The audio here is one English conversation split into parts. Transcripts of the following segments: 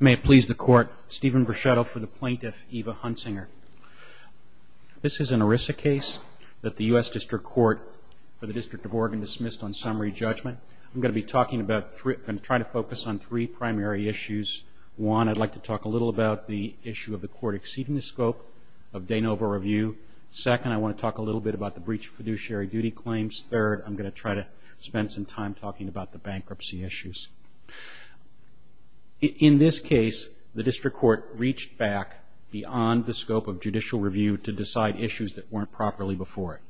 May it please the court, Stephen Brechetto for the Plaintiff, Eva Huntsinger. This is an ERISA case that the U.S. District Court for the District of Oregon dismissed on summary judgment. I'm going to be talking about three, going to try to focus on three primary issues. One, I'd like to talk a little about the issue of the court exceeding the scope of de novo review. Second, I want to talk a little bit about the breach of fiduciary duty claims. Third, I'm going to try to spend some time talking about the bankruptcy issues. In this case, the District Court reached back beyond the scope of judicial review to decide issues that weren't properly before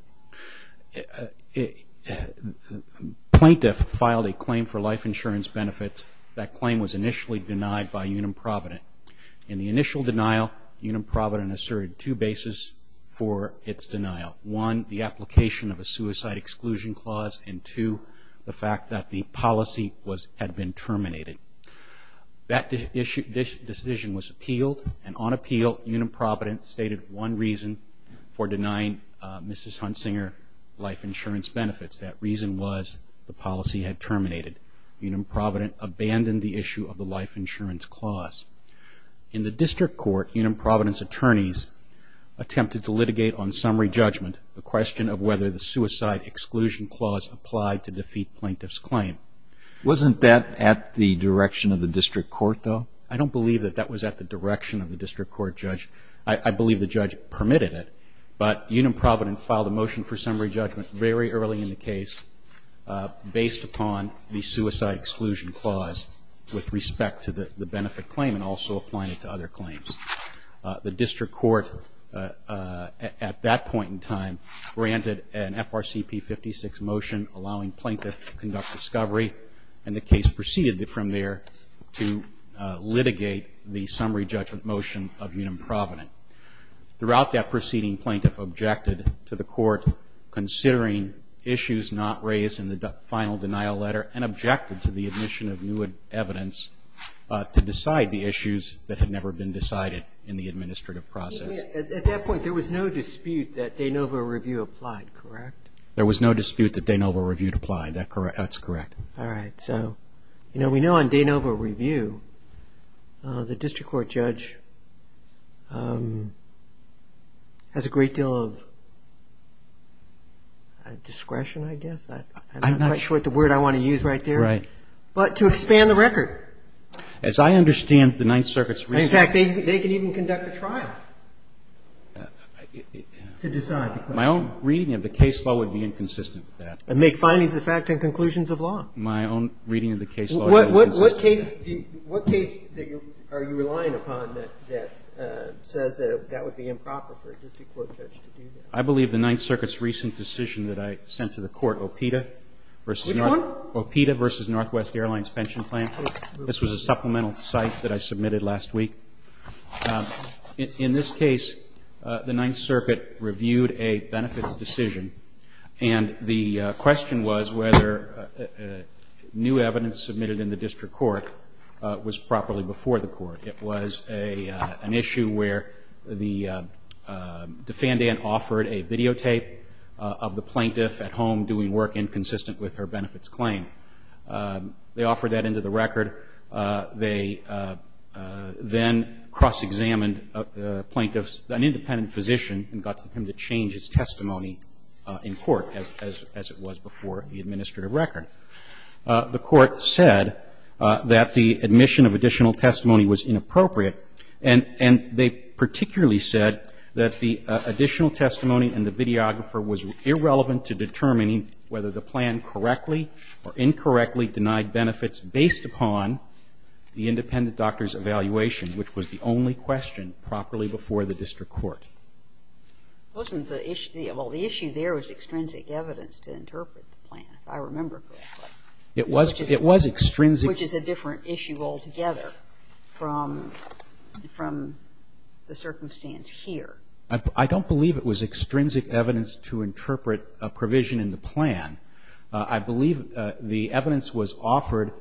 it. Plaintiff filed a claim for life insurance benefits. That claim was initially denied by Unim Provident. In the initial denial, Unim Provident asserted two basis for its denial. One, the application of a suicide exclusion clause, and two, the fact that the policy had been terminated. That decision was appealed, and on appeal, Unim Provident stated one reason for denying Mrs. Huntsinger life insurance benefits. That reason was the policy had terminated. Unim Provident abandoned the issue of the life insurance clause. In the District Court, Unim Providence attorneys attempted to litigate on summary judgment the question of whether the suicide exclusion clause applied to defeat plaintiff's claim. Wasn't that at the direction of the District Court, though? I don't believe that that was at the direction of the District Court judge. I believe the judge permitted it, but Unim Provident filed a motion for summary judgment very early in the case based upon the suicide exclusion clause with respect to the benefit claim and also applying it to other claims. The District Court, at that point in time, granted an FRCP56 motion allowing plaintiff to conduct discovery, and the case proceeded from there to litigate the summary judgment motion of Unim Provident. Throughout that proceeding, plaintiff objected to the court considering issues not raised in the final denial letter and objected to the submission of new evidence to decide the issues that had never been decided in the administrative process. At that point, there was no dispute that De Novo Review applied, correct? There was no dispute that De Novo Review applied. That's correct. All right. So, you know, we know on De Novo Review, the District Court judge has a great deal of discretion, I guess. I'm not quite sure what the word I want to use right there. Right. But to expand the record. As I understand the Ninth Circuit's recent... In fact, they can even conduct a trial to decide. My own reading of the case law would be inconsistent with that. And make findings of fact and conclusions of law. My own reading of the case law... What case are you relying upon that says that that would be improper for a District Court judge to do that? I believe the Ninth Circuit's recent decision that I sent to the court, OPITA versus... Which one? OPITA versus Northwest Airlines Pension Plan. This was a supplemental cite that I submitted last week. In this case, the Ninth Circuit reviewed a benefits decision, and the question was whether new evidence submitted in the District Court was properly before the court. It was an additional testimony in court. In addition to that, the court then offered a videotape of the plaintiff at home doing work inconsistent with her benefits claim. They offered that into the record. They then cross-examined a plaintiff's... An independent physician and got him to change his testimony in court, as it was before the administrative record. The court said that the admission of additional testimony was inappropriate, and they particularly said that the additional testimony and the videographer was irrelevant to determining whether the plan correctly or incorrectly denied benefits based upon the independent doctor's evaluation, which was the only question properly before the District Court. It wasn't the issue. Well, the issue there was extrinsic evidence to interpret the plan, if I remember correctly. It was extrinsic. Which is a different issue altogether from the circumstance here. I don't believe it was extrinsic evidence to interpret a provision in the plan. I believe the evidence was offered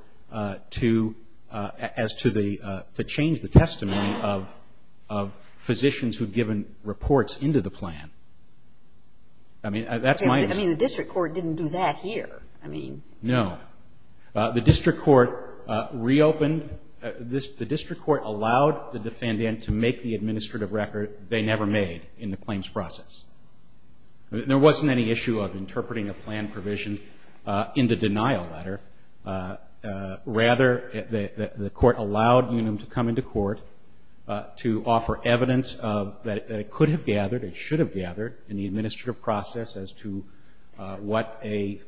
to as to the to change the testimony of physicians who'd given reports into the plan. I mean, that's my... I mean, the District Court didn't do that here. I mean... No. The District Court reopened the District Court allowed the defendant to make the administrative record they never made in the claims process. There wasn't any issue of interpreting a plan provision in the denial letter. Rather, the court allowed Unum to come into court to offer evidence that it could have gathered, it should have gathered, in the administrative process as to what a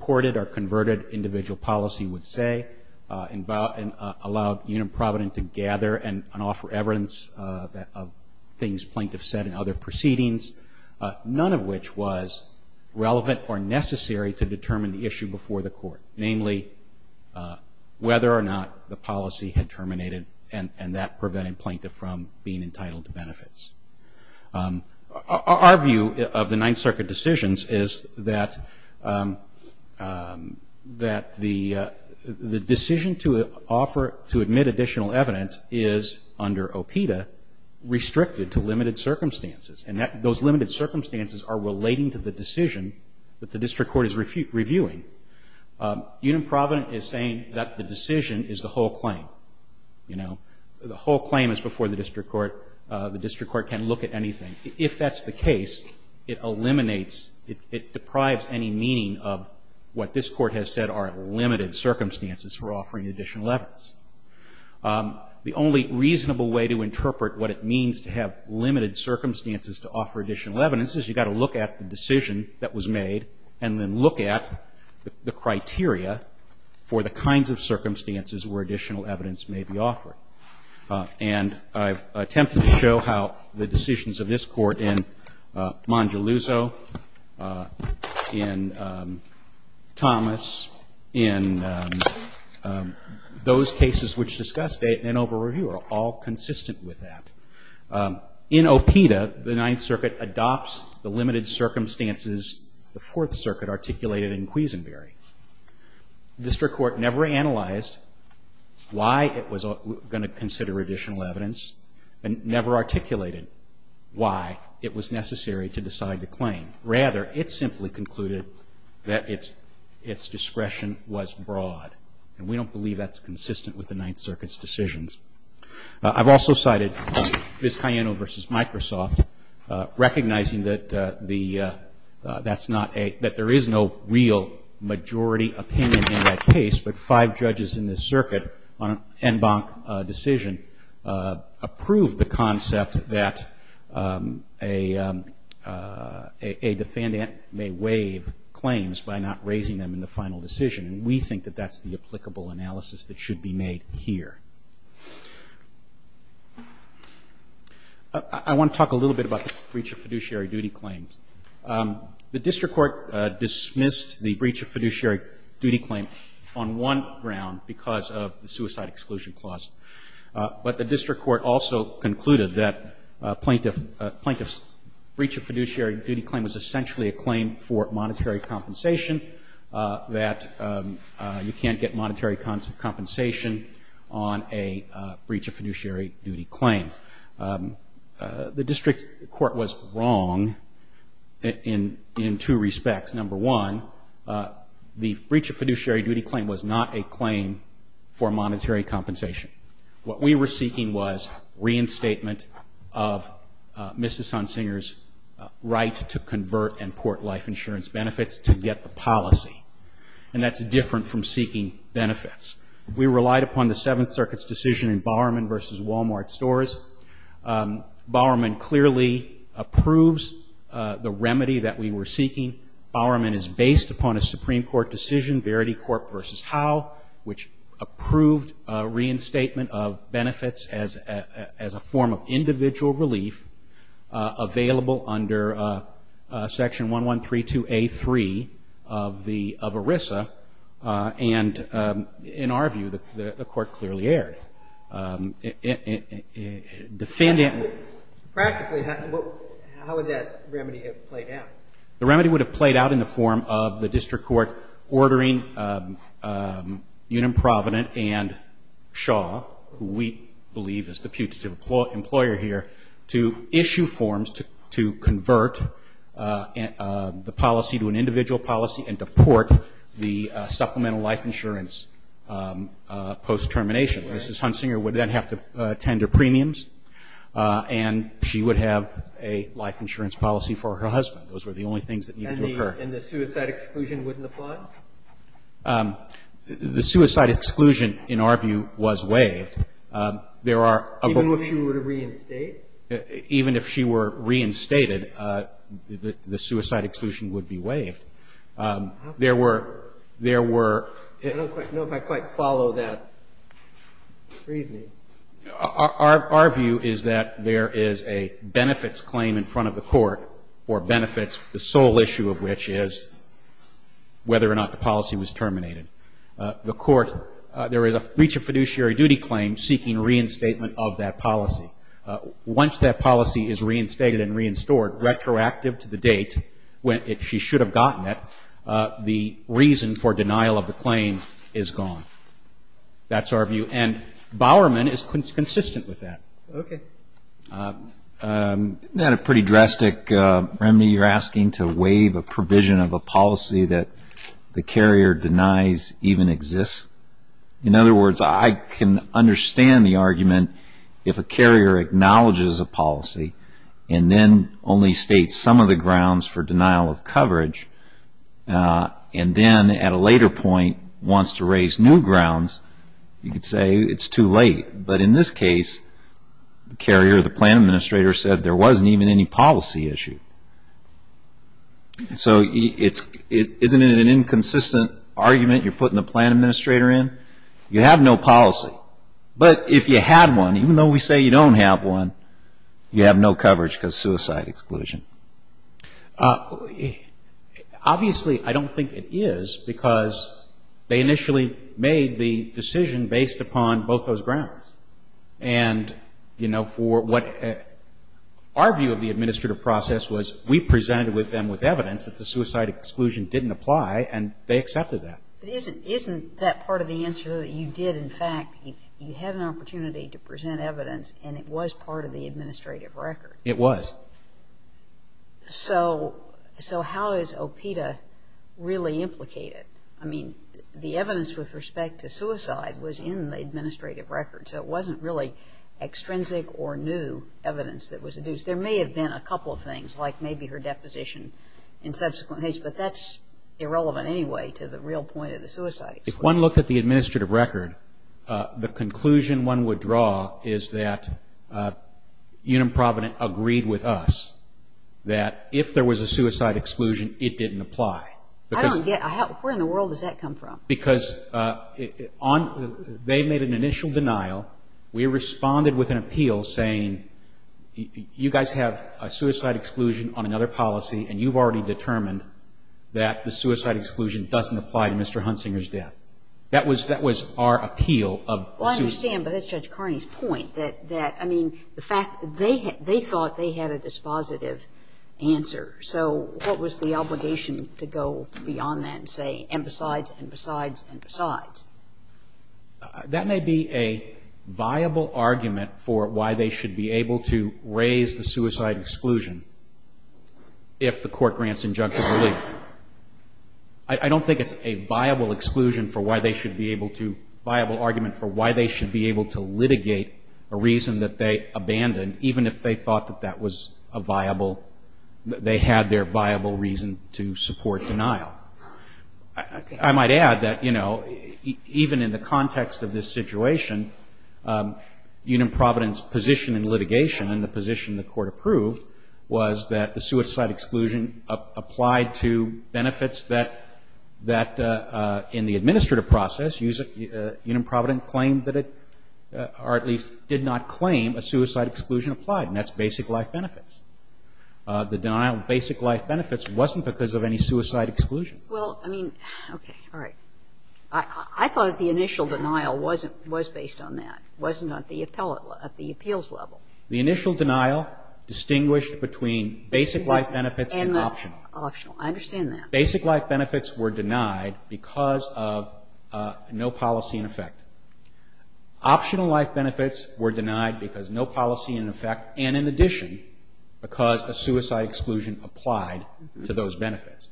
ported or converted individual policy would say, and allowed Unum Provident to gather and offer evidence of things plaintiffs said in other proceedings, none of which was relevant or necessary to determine the issue before the court. Namely, whether or not the policy had terminated and that prevented plaintiff from being entitled to benefits. Our view of the Ninth Circuit decisions is that the decision to offer, to admit additional evidence, is, under OPTA, restricted to limited circumstances. And those limited circumstances are relating to the decision that the District Court is reviewing. Unum Provident is saying that the decision is the whole claim. You know, the whole claim is before the District Court. The District Court can't look at anything. If that's the case, it eliminates, it deprives any meaning of what this court has said are limited circumstances for offering additional evidence. The only reasonable way to interpret what it means to have limited circumstances to offer additional evidence is you've got to look at the decision that was made and then look at the criteria for the kinds of circumstances where additional evidence may be offered. And I've attempted to show how the decisions of this Court in Mongeluzzo, in Thomas, in those cases which discussed it in an over-review are all consistent with that. In OPTA, the Ninth Circuit adopts the limited circumstances the Fourth Circuit articulated in Queazenbury. The District Court never analyzed why it was going to consider additional evidence and never articulated why it was necessary to decide the claim. Rather, it simply concluded that its discretion was broad. And we don't believe that's consistent with the Ninth Circuit's decisions. I've also cited Vizcayeno v. Microsoft recognizing that the, that's not a, that there is no real majority opinion in that case, but five judges in this circuit on an en banc decision approved the concept that a defendant may waive claims by not raising them in the final decision. And we think that that's the applicable analysis that should be made here. I want to talk a little bit about the breach of fiduciary duty claims. The District Court dismissed the breach of fiduciary duty claim on one ground, because of the suicide exclusion clause. But the District Court also concluded that plaintiff's breach of fiduciary duty claim was essentially a claim for monetary compensation, that you can't get monetary compensation on a breach of fiduciary duty claim. The District Court was wrong in two respects. Number one, the breach of fiduciary duty claim was not a claim for monetary compensation. What we were seeking was reinstatement of Mrs. Hunsinger's right to convert and port life insurance benefits to get the policy. And that's different from seeking benefits. We relied upon the Seventh Circuit's decision in Bowerman v. Walmart stores. Bowerman clearly approves the remedy that we were seeking. Bowerman is based upon a Supreme Court decision, Verity Court v. Howe, which approved reinstatement of benefits as a form of individual relief, available under Section 1132A3 of ERISA, and, in our view, the Court clearly erred. Defending it. Practically, how would that remedy have played out? The remedy would have played out in the form of the District Court ordering Unum Provident and Shaw, who we believe is the putative employer here, to issue forms to convert the policy to an individual policy and to port the supplemental life insurance post-termination. Mrs. Hunsinger would then have to tend to premiums, and she would have a life insurance policy for her husband. Those were the only things that needed to occur. And the suicide exclusion wouldn't apply? The suicide exclusion, in our view, was waived. Even if she were to reinstate? Even if she were reinstated, the suicide exclusion would be waived. I don't quite know if I quite follow that reasoning. Our view is that there is a benefits claim in front of the Court for benefits, the sole issue of which is whether or not the policy was terminated. The Court, there is a breach of fiduciary duty claim seeking reinstatement of that policy. Once that policy is reinstated and reinstored, retroactive to the date, if she should have gotten it, the reason for denial of the claim is gone. That's our view. And Bowerman is consistent with that. Isn't that a pretty drastic remedy? You're asking to waive a provision of a policy that the carrier denies even exists? In other words, I can understand the argument if a carrier acknowledges a policy and then only states some of the grounds for denial of coverage, and then at a later point wants to raise new grounds, you could say it's too late. But in this case, the carrier or the plan administrator said there wasn't even any policy issue. So isn't it an inconsistent argument you're putting the plan administrator in? You have no policy. But if you had one, even though we say you don't have one, you have no coverage because of suicide exclusion. Obviously, I don't think it is because they initially made the decision based upon both those grounds. And, you know, for what our view of the administrative process was, we presented with them with evidence that the suicide exclusion didn't apply, and they accepted that. But isn't that part of the answer that you did, in fact, you had an opportunity to present evidence and it was part of the administrative record? It was. So how is OPTA really implicated? I mean, the evidence with respect to suicide was in the administrative record, so it wasn't really extrinsic or new evidence that was induced. There may have been a couple of things, like maybe her deposition in subsequent case, but that's irrelevant anyway to the real point of the suicide exclusion. If one looked at the administrative record, the conclusion one would draw is that Unum Provident agreed with us that if there was a suicide exclusion, it didn't apply. Where in the world does that come from? Because they made an initial denial. We responded with an appeal saying, you guys have a suicide exclusion on another policy, and you've already determined that the suicide exclusion doesn't apply to Mr. Hunsinger's death. That was our appeal of suicide. Well, I understand, but that's Judge Carney's point, that, I mean, the fact that they thought they had a dispositive answer. So what was the obligation to go beyond that and say, and besides, and besides, and besides? That may be a viable argument for why they should be able to raise the suicide exclusion if the court grants injunctive relief. I don't think it's a viable exclusion for why they should be able to, viable argument for why they should be able to litigate a reason that they abandoned, even if they thought that that was a viable, they had their viable reason to support denial. I might add that, you know, even in the context of this situation, Unum Provident's position in litigation and the position the court approved was that the suicide exclusion applied to benefits that, in the administrative process, Unum Provident claimed that it, or at least did not claim a suicide exclusion applied, and that's basic life benefits. The denial of basic life benefits wasn't because of any suicide exclusion. Well, I mean, okay, all right. I thought that the initial denial was based on that, wasn't at the appeals level. The initial denial distinguished between basic life benefits and optional. And the optional. I understand that. Basic life benefits were denied because of no policy in effect. Optional life benefits were denied because no policy in effect, and in addition because a suicide exclusion applied to those benefits.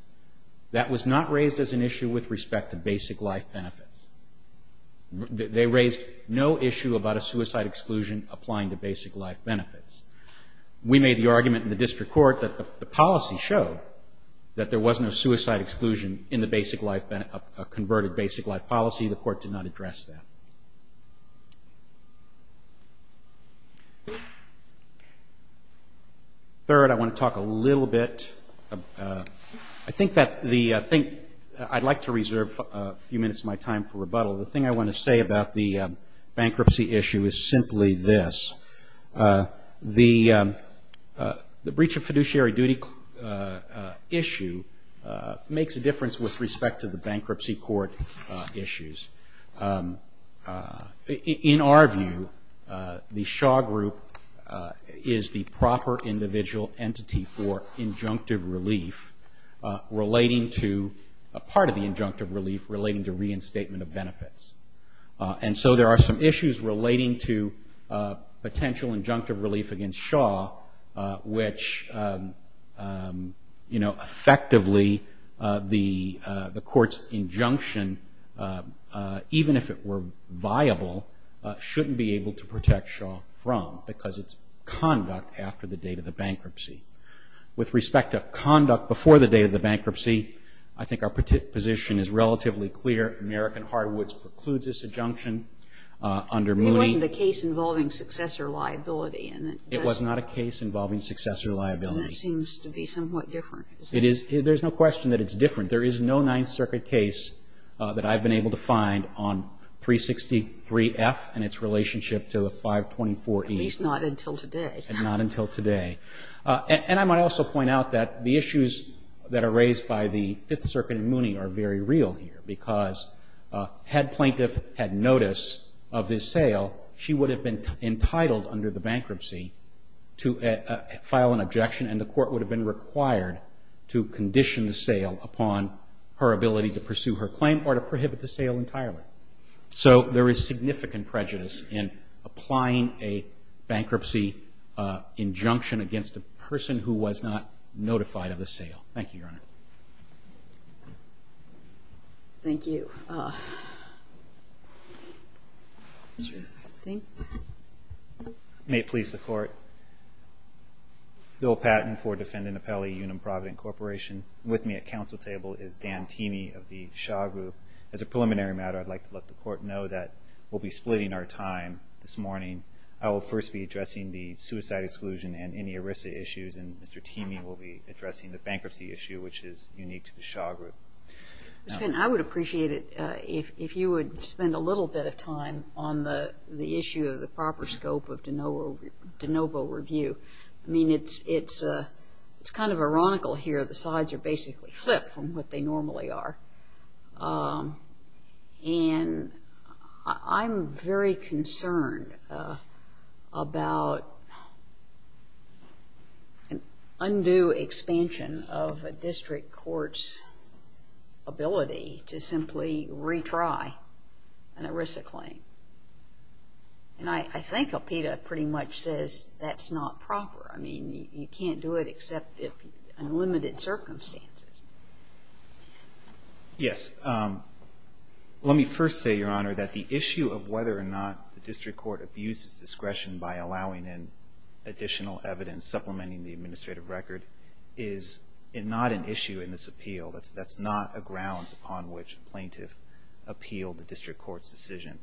That was not raised as an issue with respect to basic life benefits. They raised no issue about a suicide exclusion applying to basic life benefits. We made the argument in the district court that the policy showed that there was no suicide exclusion in the basic life, converted basic life policy. The court did not address that. Third, I want to talk a little bit. I'd like to reserve a few minutes of my time for rebuttal. The thing I want to say about the bankruptcy issue is simply this. The breach of fiduciary duty issue makes a difference with respect to the bankruptcy court issues. In our view, the Shaw Group is the proper individual entity for injunctive relief relating to, a part of the injunctive relief relating to reinstatement of benefits. And so there are some issues relating to potential injunctive relief against Shaw, which effectively the court's injunction, even if it were viable, shouldn't be able to protect Shaw from because it's conduct after the date of the bankruptcy. With respect to conduct before the date of the bankruptcy, I think our position is relatively clear. American Hardwoods precludes this injunction under Moody. It wasn't a case involving successor liability. It was not a case involving successor liability. And it seems to be somewhat different. It is. There's no question that it's different. There is no Ninth Circuit case that I've been able to find on 363F and its relationship to 524E. At least not until today. And not until today. And I might also point out that the issues that are raised by the Fifth Circuit in Moody are very real here because had plaintiff had notice of this sale, she would have been entitled under the bankruptcy to file an objection and the court would have been required to condition the sale upon her ability to pursue her claim or to prohibit the sale entirely. So there is significant prejudice in applying a bankruptcy injunction against a person who was not notified of the sale. Thank you, Your Honor. Thank you. May it please the Court. Bill Patton for Defendant Appellee, Unum Provident Corporation. With me at council table is Dan Teamee of the Shaw Group. As a preliminary matter, I'd like to let the Court know that we'll be splitting our time this morning. I will first be addressing the suicide exclusion and any ERISA issues, and Mr. Teamee will be addressing the bankruptcy issue, which is unique to the Shaw Group. I would appreciate it if you would spend a little bit of time on the issue of the proper scope of de novo review. I mean, it's kind of ironical here. The sides are basically flipped from what they normally are. And I'm very concerned about an undue expansion of a district court's ability to simply retry an ERISA claim. And I think Alpeda pretty much says that's not proper. I mean, you can't do it except in limited circumstances. Yes. Let me first say, Your Honor, that the issue of whether or not the district court abuses discretion by allowing in additional evidence supplementing the administrative record is not an issue in this appeal. That's not a ground upon which the plaintiff appealed the district court's decision.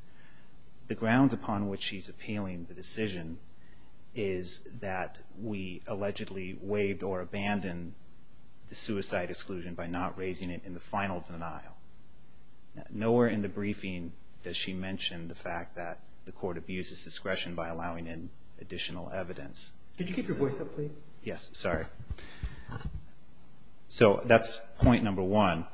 The ground upon which he's appealing the decision is that we allegedly waived or abandoned the suicide exclusion. by not raising it in the final denial. Nowhere in the briefing does she mention the fact that the court abuses discretion by allowing in additional evidence. So that's point number one.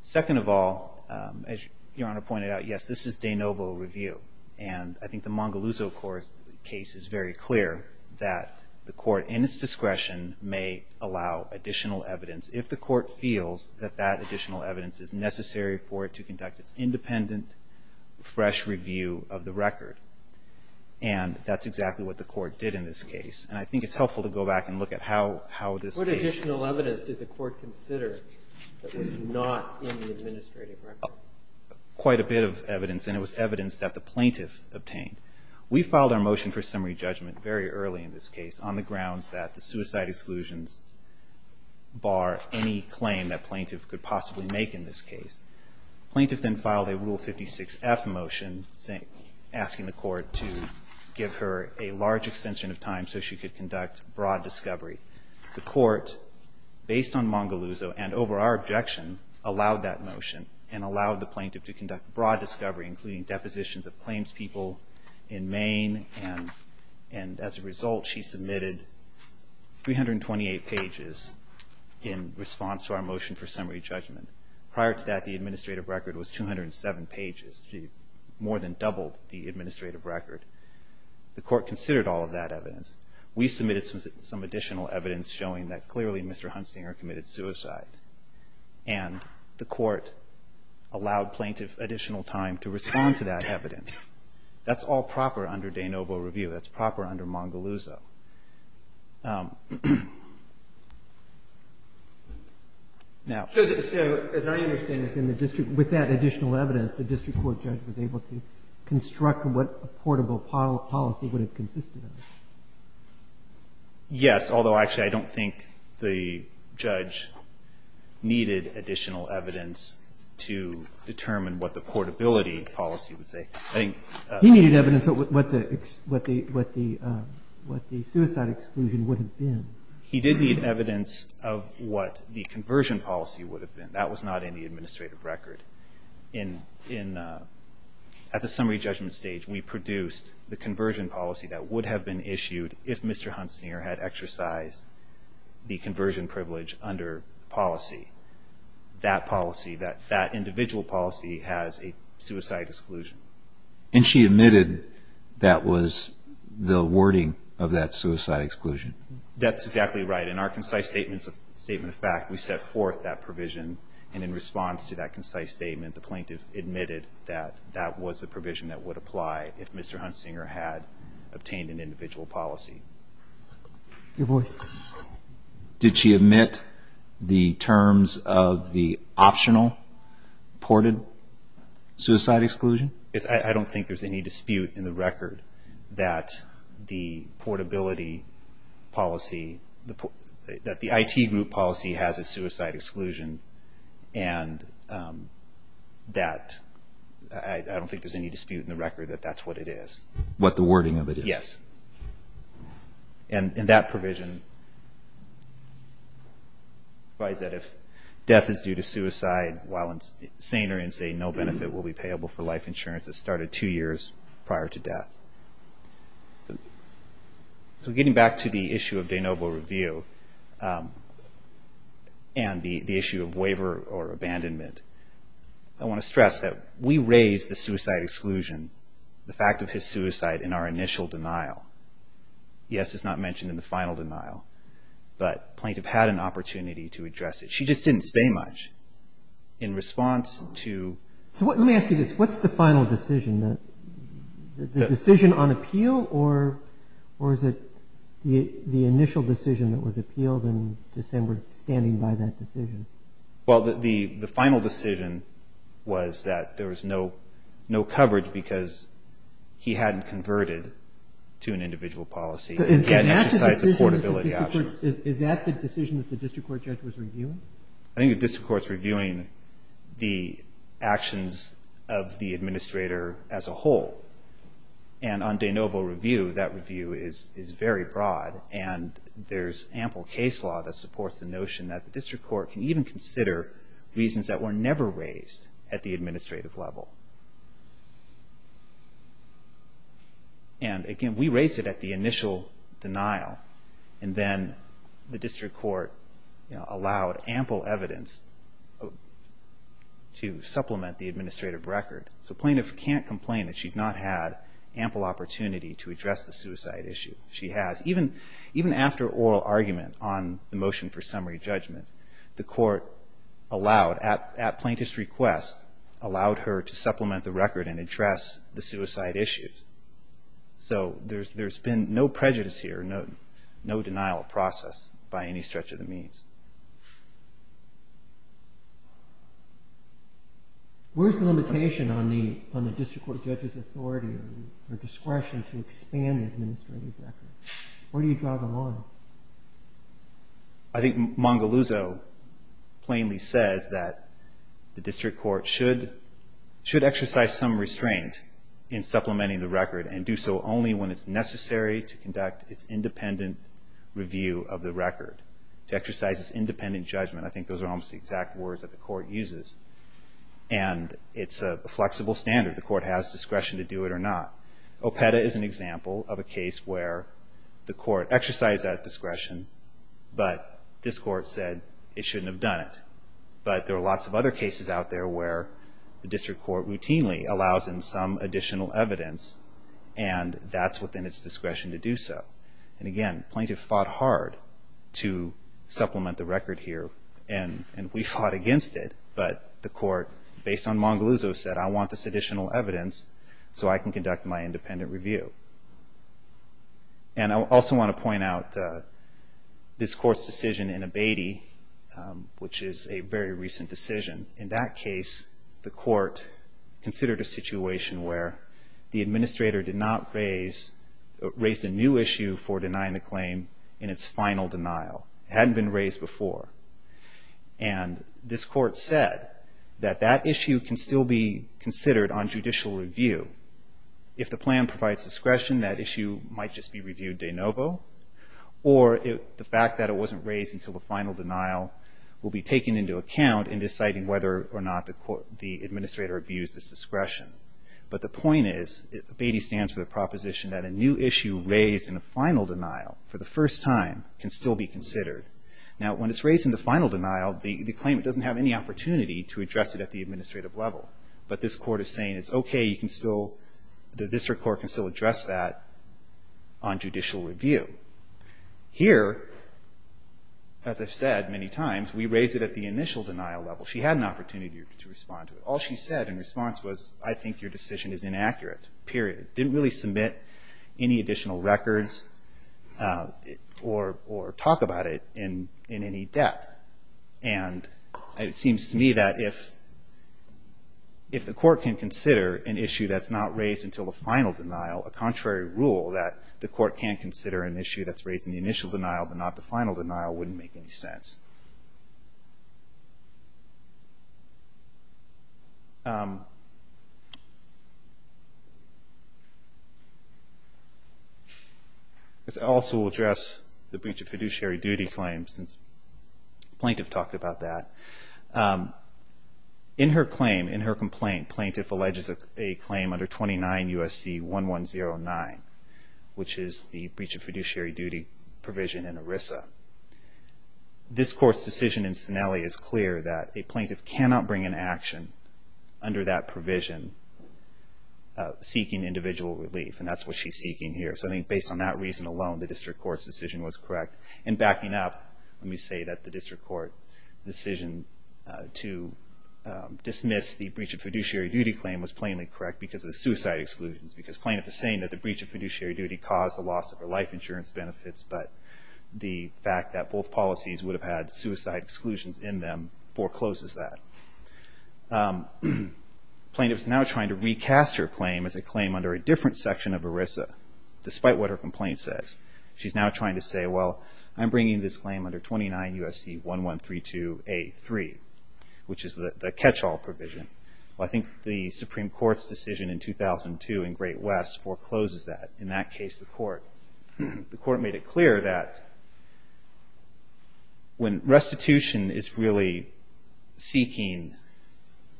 Second of all, as Your Honor pointed out, yes, this is de novo review. And I think the Mongoluzo case is very clear that the court, in its discretion, may allow additional evidence if the court feels that that additional evidence is necessary for it to conduct its independent, fresh review of the record. And that's exactly what the court did in this case. And I think it's helpful to go back and look at how this case... We filed our motion for summary judgment very early in this case on the grounds that the suicide exclusions bar any claim that plaintiff could possibly make in this case. Plaintiff then filed a Rule 56-F motion asking the court to give her a large extension of time so she could conduct broad discovery. The court, based on Mongoluzo and over our objection, allowed that motion and allowed the plaintiff to conduct broad discovery, including depositions of claimspeople in Maine. And as a result, she submitted 328 pages in response to our motion for summary judgment. Prior to that, the administrative record was 207 pages. She more than doubled the administrative record. The court considered all of that evidence. We submitted some additional evidence showing that clearly Mr. Huntzinger committed suicide, and the court allowed plaintiff additional time to respond to that evidence. That's all proper under de novo review. That's proper under Mongoluzo. Now... So as I understand it, in the district, with that additional evidence, the district court judge was able to construct what a portable policy would have consisted of. Yes, although actually I don't think the judge needed additional evidence to determine what the portability policy would say. He needed evidence of what the suicide exclusion would have been. He did need evidence of what the conversion policy would have been. That was not in the administrative record. At the summary judgment stage, we produced the conversion policy that would have been issued if Mr. Huntzinger had exercised the conversion privilege under policy. That policy, that individual policy has a suicide exclusion. And she admitted that was the wording of that suicide exclusion? That's exactly right. In our concise statement of fact, we set forth that provision, and in response to that concise statement, the plaintiff admitted that that was the provision that would apply if Mr. Huntzinger had obtained an individual policy. Your voice. Did she admit the terms of the optional ported suicide exclusion? Yes, I don't think there's any dispute in the record that the portability policy, that the IT group policy has a suicide exclusion, and that I don't think there's any dispute in the record that that's what it is. What the wording of it is? Yes, and that provision provides that if death is due to suicide, while in saner and say no benefit will be payable for life insurance that started two years prior to death. So getting back to the issue of de novo review, and the issue of waiver or abandonment, I want to stress that we raised the fact of his suicide in our initial denial. Yes, it's not mentioned in the final denial, but the plaintiff had an opportunity to address it. She just didn't say much in response to... Let me ask you this, what's the final decision, the decision on appeal, or is it the initial decision that was appealed in December, standing by that decision? No coverage, because he hadn't converted to an individual policy, and he hadn't exercised the portability option. Is that the decision that the district court judge was reviewing? I think the district court's reviewing the actions of the administrator as a whole, and on de novo review, that review is very broad, and there's ample case law that supports the notion that the district court can even consider reasons that were never raised at the initial denial. And again, we raised it at the initial denial, and then the district court allowed ample evidence to supplement the administrative record. So the plaintiff can't complain that she's not had ample opportunity to address the suicide issue. She has. Even after oral argument on the motion for summary judgment, the court allowed, at plaintiff's request, allowed her to supplement the administrative record and address the suicide issue. So there's been no prejudice here, no denial of process by any stretch of the means. Where's the limitation on the district court judge's authority or discretion to expand the administrative record? Where do you draw the line? I think Mongaluzzo plainly says that the district court should exercise some respect for the administrative record, and I think that's restrained in supplementing the record, and do so only when it's necessary to conduct its independent review of the record, to exercise its independent judgment. I think those are almost the exact words that the court uses, and it's a flexible standard. The court has discretion to do it or not. OPEDA is an example of a case where the court exercised that discretion, but this court said it shouldn't have done it. But there are lots of other cases out there where the district court routinely allows in some additional evidence, and that's within its discretion to do so. And again, plaintiff fought hard to supplement the record here, and we fought against it, but the court, based on Mongaluzzo, said, I want this additional evidence so I can conduct my independent review. And I also want to point out this court's decision in Abatey, which is a very recent decision. In that case, the court considered a situation where the administrator did not raise, raised a new issue for denying the claim in its final denial. It hadn't been raised before. And this court said that that issue can still be considered on judicial review. If the plan provides discretion, that issue might just be reviewed de novo, or the fact that it wasn't raised until the final denial will be taken into account in deciding whether or not the administrator abused its discretion. But the point is, Abatey stands for the proposition that a new issue raised in a final denial for the first time can still be considered. Now, when it's raised in the final denial, the claimant doesn't have any opportunity to address it at the administrative level. But this court is saying, it's okay, you can still, the district court can still address that on judicial review. Here, the district court as I've said many times, we raised it at the initial denial level. She had an opportunity to respond to it. All she said in response was, I think your decision is inaccurate, period. Didn't really submit any additional records or talk about it in any depth. And it seems to me that if the court can consider an issue that's not raised until the final denial, a contrary rule that the court can consider an issue that's raised in the initial denial but not the final denial wouldn't make any sense. I also will address the breach of fiduciary duty claim since the plaintiff talked about that. In her claim, in her complaint, plaintiff alleges a claim under 29 U.S.C. 1109, which is the breach of fiduciary duty provision in ERISA. This court's decision in Sinelli is clear that a plaintiff cannot bring an action under that provision seeking individual relief. And that's what she's seeking here. So I think based on that reason alone, the district court's decision was correct. And backing up, let me say that the breach of fiduciary duty claim was plainly correct because of the suicide exclusions. Because plaintiff is saying that the breach of fiduciary duty caused the loss of her life insurance benefits, but the fact that both policies would have had suicide exclusions in them forecloses that. Plaintiff is now trying to recast her claim as a claim under a different section of ERISA, despite what her complaint says. She's now trying to say, well, I'm bringing this claim under 29 U.S.C. 1132A.3, which is the catch-all provision. I think the Supreme Court's decision in 2002 in Great West forecloses that. In that case, the court made it clear that when restitution is really seeking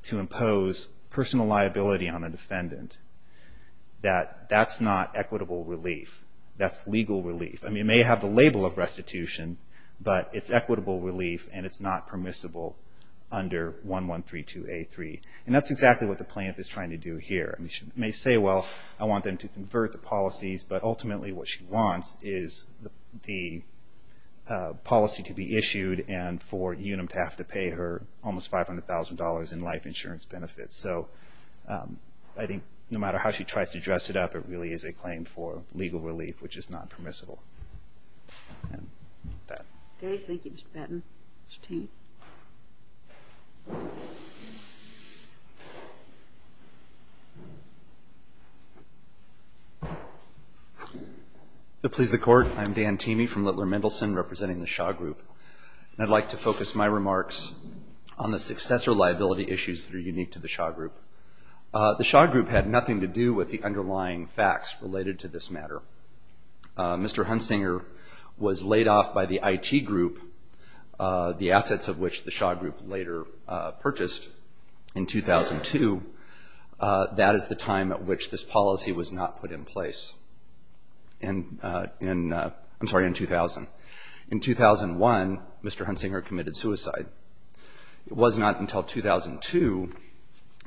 to impose personal liability on a defendant, that that's not equitable relief. That's legal relief. I mean, it may have the label of restitution, but it's equitable relief and it's not permissible under 1132A.3. And that's exactly what the plaintiff is trying to do here. She may say, well, I want them to convert the policies, but ultimately what she wants is the policy to be issued and for UNM to have to pay her almost $500,000 in life insurance benefits. So I think no matter how she tries to dress it up, it really is a claim for legal relief, which is not permissible. And with that. Okay. Thank you, Mr. Patton. Mr. Teemey. To please the Court, I'm Dan Teemey from Littler Mendelson representing the Shaw Group. I'd like to focus my remarks on the successor liability issues that are unique to the Shaw Group. The Shaw Group had nothing to do with the underlying facts related to this matter. Mr. Hunsinger was laid off by the IT group, the assets of which the Shaw Group later purchased in 2002. That is the time at which this policy was not put in place. I'm sorry, in 2000. In 2001, Mr. Hunsinger committed suicide. It was not until 2002,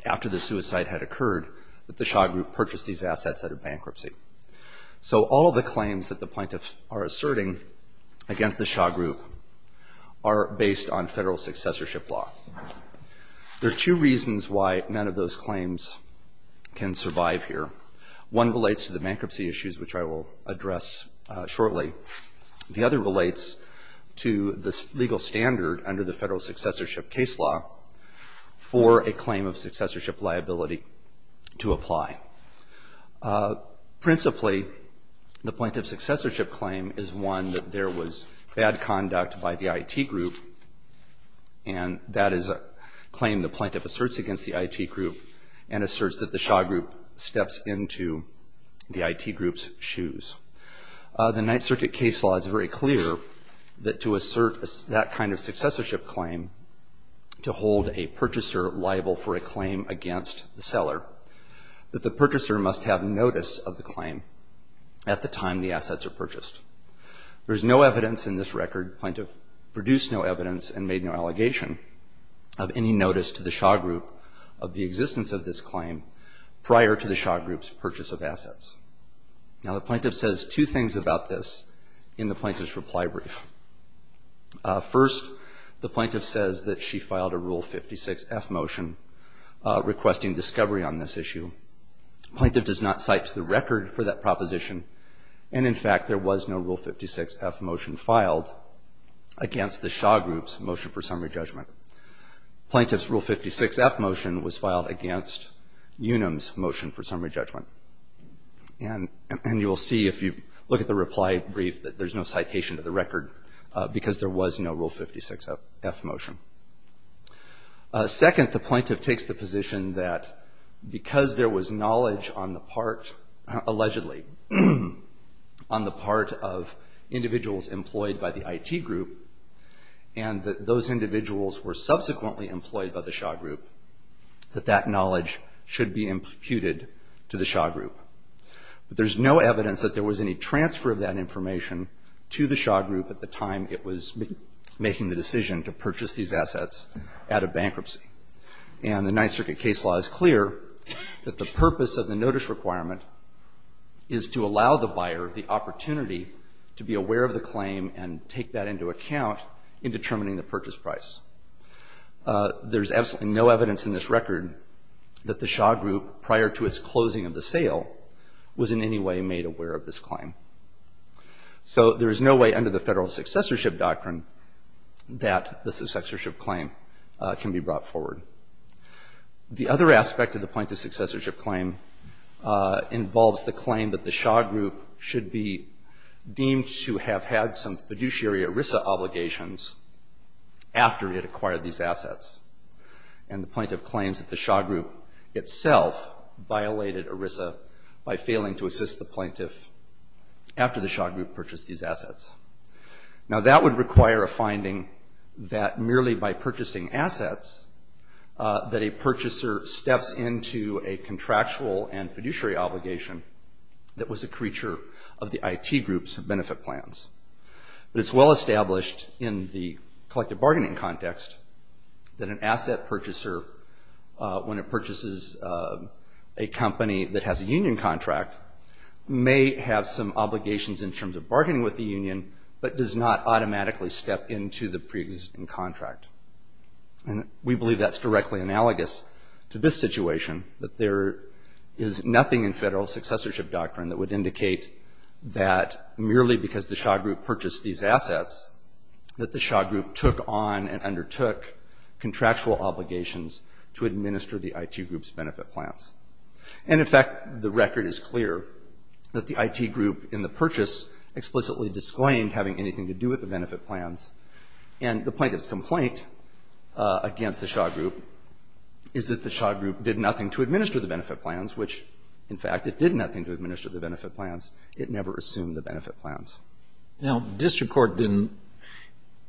after the suicide had occurred, that the Shaw Group purchased these assets out of bankruptcy. So all the claims that the plaintiffs are asserting against the Shaw Group are based on Federal successorship law. There are two reasons why none of those claims can survive here. One relates to the bankruptcy issues, which I will address shortly. The other relates to the legal standard under the Federal successorship law for a claim of successorship liability to apply. Principally, the plaintiff's successorship claim is one that there was bad conduct by the IT group, and that is a claim the plaintiff asserts against the IT group and asserts that the Shaw Group steps into the IT group's shoes. The Ninth Circuit case law is very clear that to assert that kind of successorship claim to hold a plaintiff's claim against the seller, that the purchaser must have notice of the claim at the time the assets are purchased. There is no evidence in this record, the plaintiff produced no evidence and made no allegation of any notice to the Shaw Group of the existence of this claim prior to the Shaw Group's purchase of assets. Now, the plaintiff says two things about this in the plaintiff's reply brief. First, the plaintiff does not cite to the record for that proposition, and in fact, there was no Rule 56-F motion filed against the Shaw Group's motion for summary judgment. The plaintiff's Rule 56-F motion was filed against Unum's motion for summary judgment. And you will see if you look at the reply brief that there is no citation to the record because there was no Rule 56-F motion. Second, the plaintiff takes the position that because there was knowledge on the part, allegedly, on the part of individuals employed by the IT group, and that those individuals were subsequently employed by the Shaw Group, that that knowledge should be imputed to the Shaw Group. But there's no evidence that there was any transfer of that information to the Shaw Group at the time it was making the decision to purchase assets out of bankruptcy. And the Ninth Circuit case law is clear that the purpose of the notice requirement is to allow the buyer the opportunity to be aware of the claim and take that into account in determining the purchase price. There's absolutely no evidence in this record that the Shaw Group, prior to its closing of the sale, was in any way made aware of this claim. So there is no way under the Federal Successorship Doctrine that the successorship claim can be brought forward. The other aspect of the plaintiff's successorship claim involves the claim that the Shaw Group should be deemed to have had some fiduciary ERISA obligations after it acquired these assets. And the plaintiff claims that the Shaw Group itself violated ERISA by failing to assist the plaintiff after the Shaw Group purchased these assets. Now that would require a finding that merely by purchasing assets that a purchaser steps into a contractual and fiduciary obligation that was a creature of the IT groups of benefit plans. But it's well established in the collective bargaining context that an asset purchaser, when it purchases a company that has a union contract, may have some obligations in terms of bargaining with the union, but does not automatically step into the pre-existing contract. And we believe that's directly analogous to this situation, that there is nothing in Federal Successorship Doctrine that would indicate that merely because the Shaw Group purchased these assets that the Shaw Group took on and undertook contractual obligations to administer the IT group's benefit plans. And in fact, the plaintiff explicitly disclaimed having anything to do with the benefit plans. And the plaintiff's complaint against the Shaw Group is that the Shaw Group did nothing to administer the benefit plans, which in fact, it did nothing to administer the benefit plans. It never assumed the benefit plans. Now, district court didn't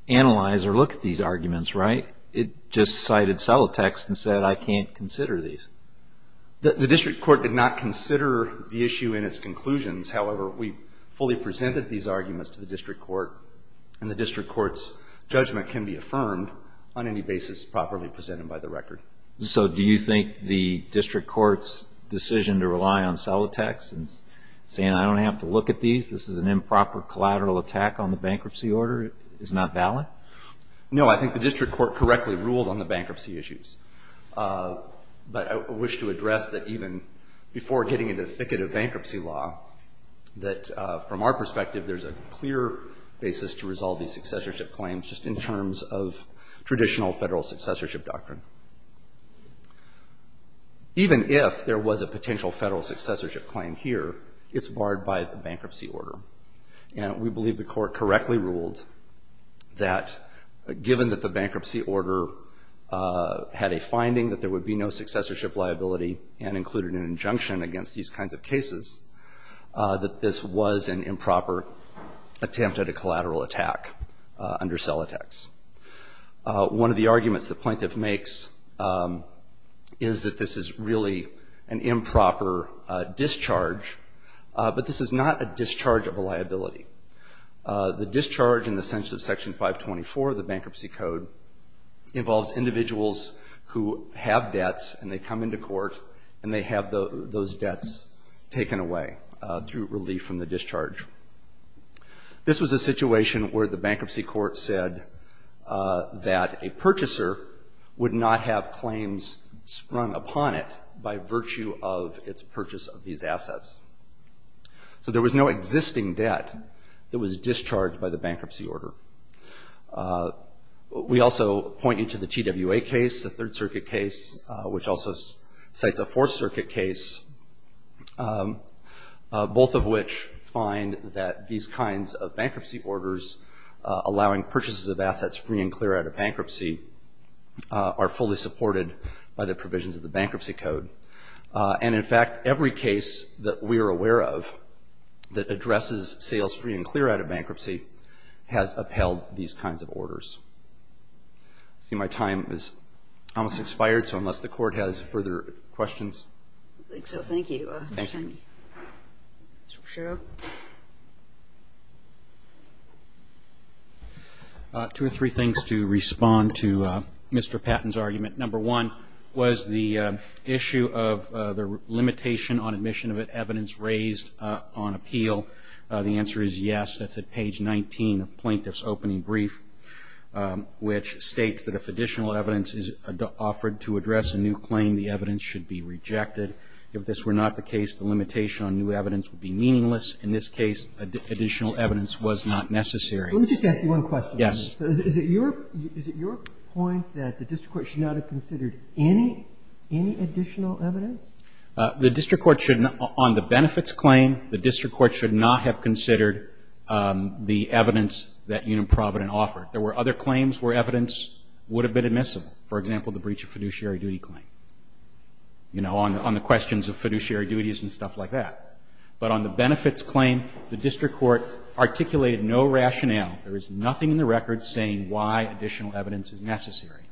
analyze or look at these arguments, right? It just cited solid text and said, I can't consider these. The district court did not consider the issue in its conclusions. However, we fully presented these arguments to the district court, and the district court's judgment can be affirmed on any basis properly presented by the record. So do you think the district court's decision to rely on solid text and saying, I don't have to look at these, this is an improper collateral attack on the bankruptcy order, is not valid? No, I think the district court correctly ruled on the bankruptcy issues. But I wish to address that even before getting into the thicket of bankruptcy law, that from our perspective, there's a clear basis to resolve these successorship claims just in terms of traditional federal successorship doctrine. Even if there was a potential federal successorship claim here, it's barred by the bankruptcy order. And we believe the court correctly ruled that, given that the bankruptcy order had a finding that there would be no successorship liability, and included an injunction against these kinds of cases, that this was an improper attempt at a collateral attack under solid text. One of the arguments the plaintiff makes is that this is really an improper discharge, but this is not a discharge of a liability. The plaintiff's argument is that this is a discharge of a liability. The discharge in the sense of Section 524 of the Bankruptcy Code involves individuals who have debts, and they come into court, and they have those debts taken away through relief from the discharge. This was a situation where the bankruptcy court said that a purchaser would not have claims sprung upon it by virtue of its purchase of these assets, and that this was discharged by the bankruptcy order. We also point you to the TWA case, the Third Circuit case, which also cites a Fourth Circuit case, both of which find that these kinds of bankruptcy orders allowing purchases of assets free and clear out of bankruptcy are fully supported by the provisions of the Bankruptcy Code. And, in fact, every case that we are aware of that addresses sales free and clear out of bankruptcy has upheld these kinds of orders. I see my time has almost expired, so unless the Court has further questions. I think so. Thank you. Thank you. Two or three things to respond to Mr. Patton's argument. Number one was the issue of the limitation on admission of evidence raised on appeal. The answer is yes. That's at page 19 of Plaintiff's opening brief, which states that if additional evidence is offered to address a new claim, the evidence should be rejected. If this were not the case, the limitation on new evidence would be meaningless. In this case, additional evidence was not necessary. Let me just ask you one question. Yes. Is it your point that the district court should not have considered any additional evidence? The district court should not, on the benefits claim, the district court should not have considered the evidence that Union Providence offered. There were other claims where evidence would have been admissible. For example, the breach of fiduciary duty claim, you know, on the questions of fiduciary duties and stuff like that. But on the benefits claim, the district court articulated no rationale. There is nothing in the record saying why additional evidence is necessary.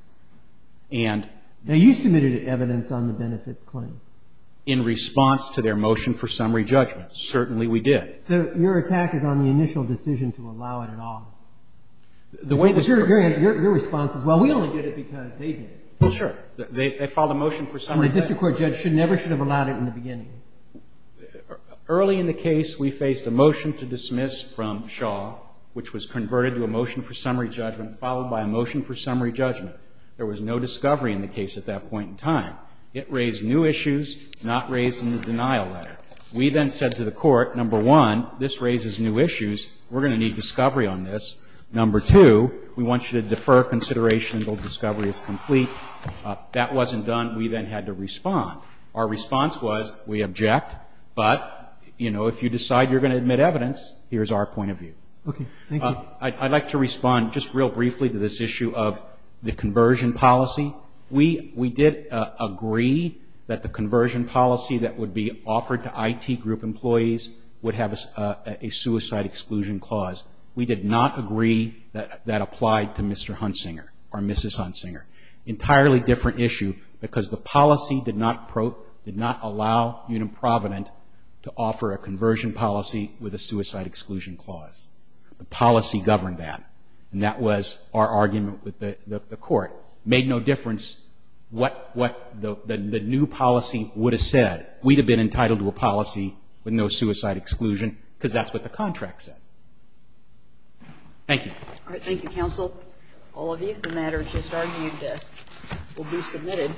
And you submitted evidence on the benefits claim. In response to their motion for summary judgment, certainly we did. So your attack is on the initial decision to allow it at all? Your response is, well, we only did it because they did it. Well, sure. They filed a motion for summary judgment. A district court judge never should have allowed it in the beginning. Early in the case, we faced a motion to dismiss from Shaw, which was converted to a motion for summary judgment, followed by a motion for summary judgment, and a motion for summary judgment. Now, that motion was dismissed, not raised in the denial letter. We then said to the court, number one, this raises new issues. We're going to need discovery on this. Number two, we want you to defer consideration until discovery is complete. That wasn't done. We then had to respond. Our response was, we object, but, you know, if you decide you're going to admit evidence, here's our point of view. Okay. Thank you. I'd like to respond just real briefly to this issue of the conversion policy. We did agree that the conversion policy that would be offered to IT group employees would have a suicide exclusion clause. We did not agree that that applied to Mr. Hunsinger or Mrs. Hunsinger. Entirely different issue, because the policy did not allow Union Provident to offer a conversion policy with a suicide exclusion clause. The policy governed that, and that was our argument with the court. Made no difference what the new policy would have said. We'd have been entitled to a policy with no suicide exclusion, because that's what the contract said. Thank you. All right. Thank you, counsel, all of you. The matter just argued will be submitted,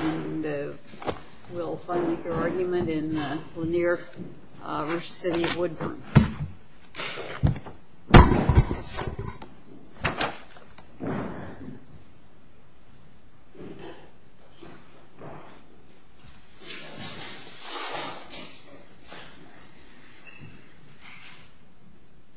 and we'll finally make our argument in Lanier v. City of Woodburn. Thank you.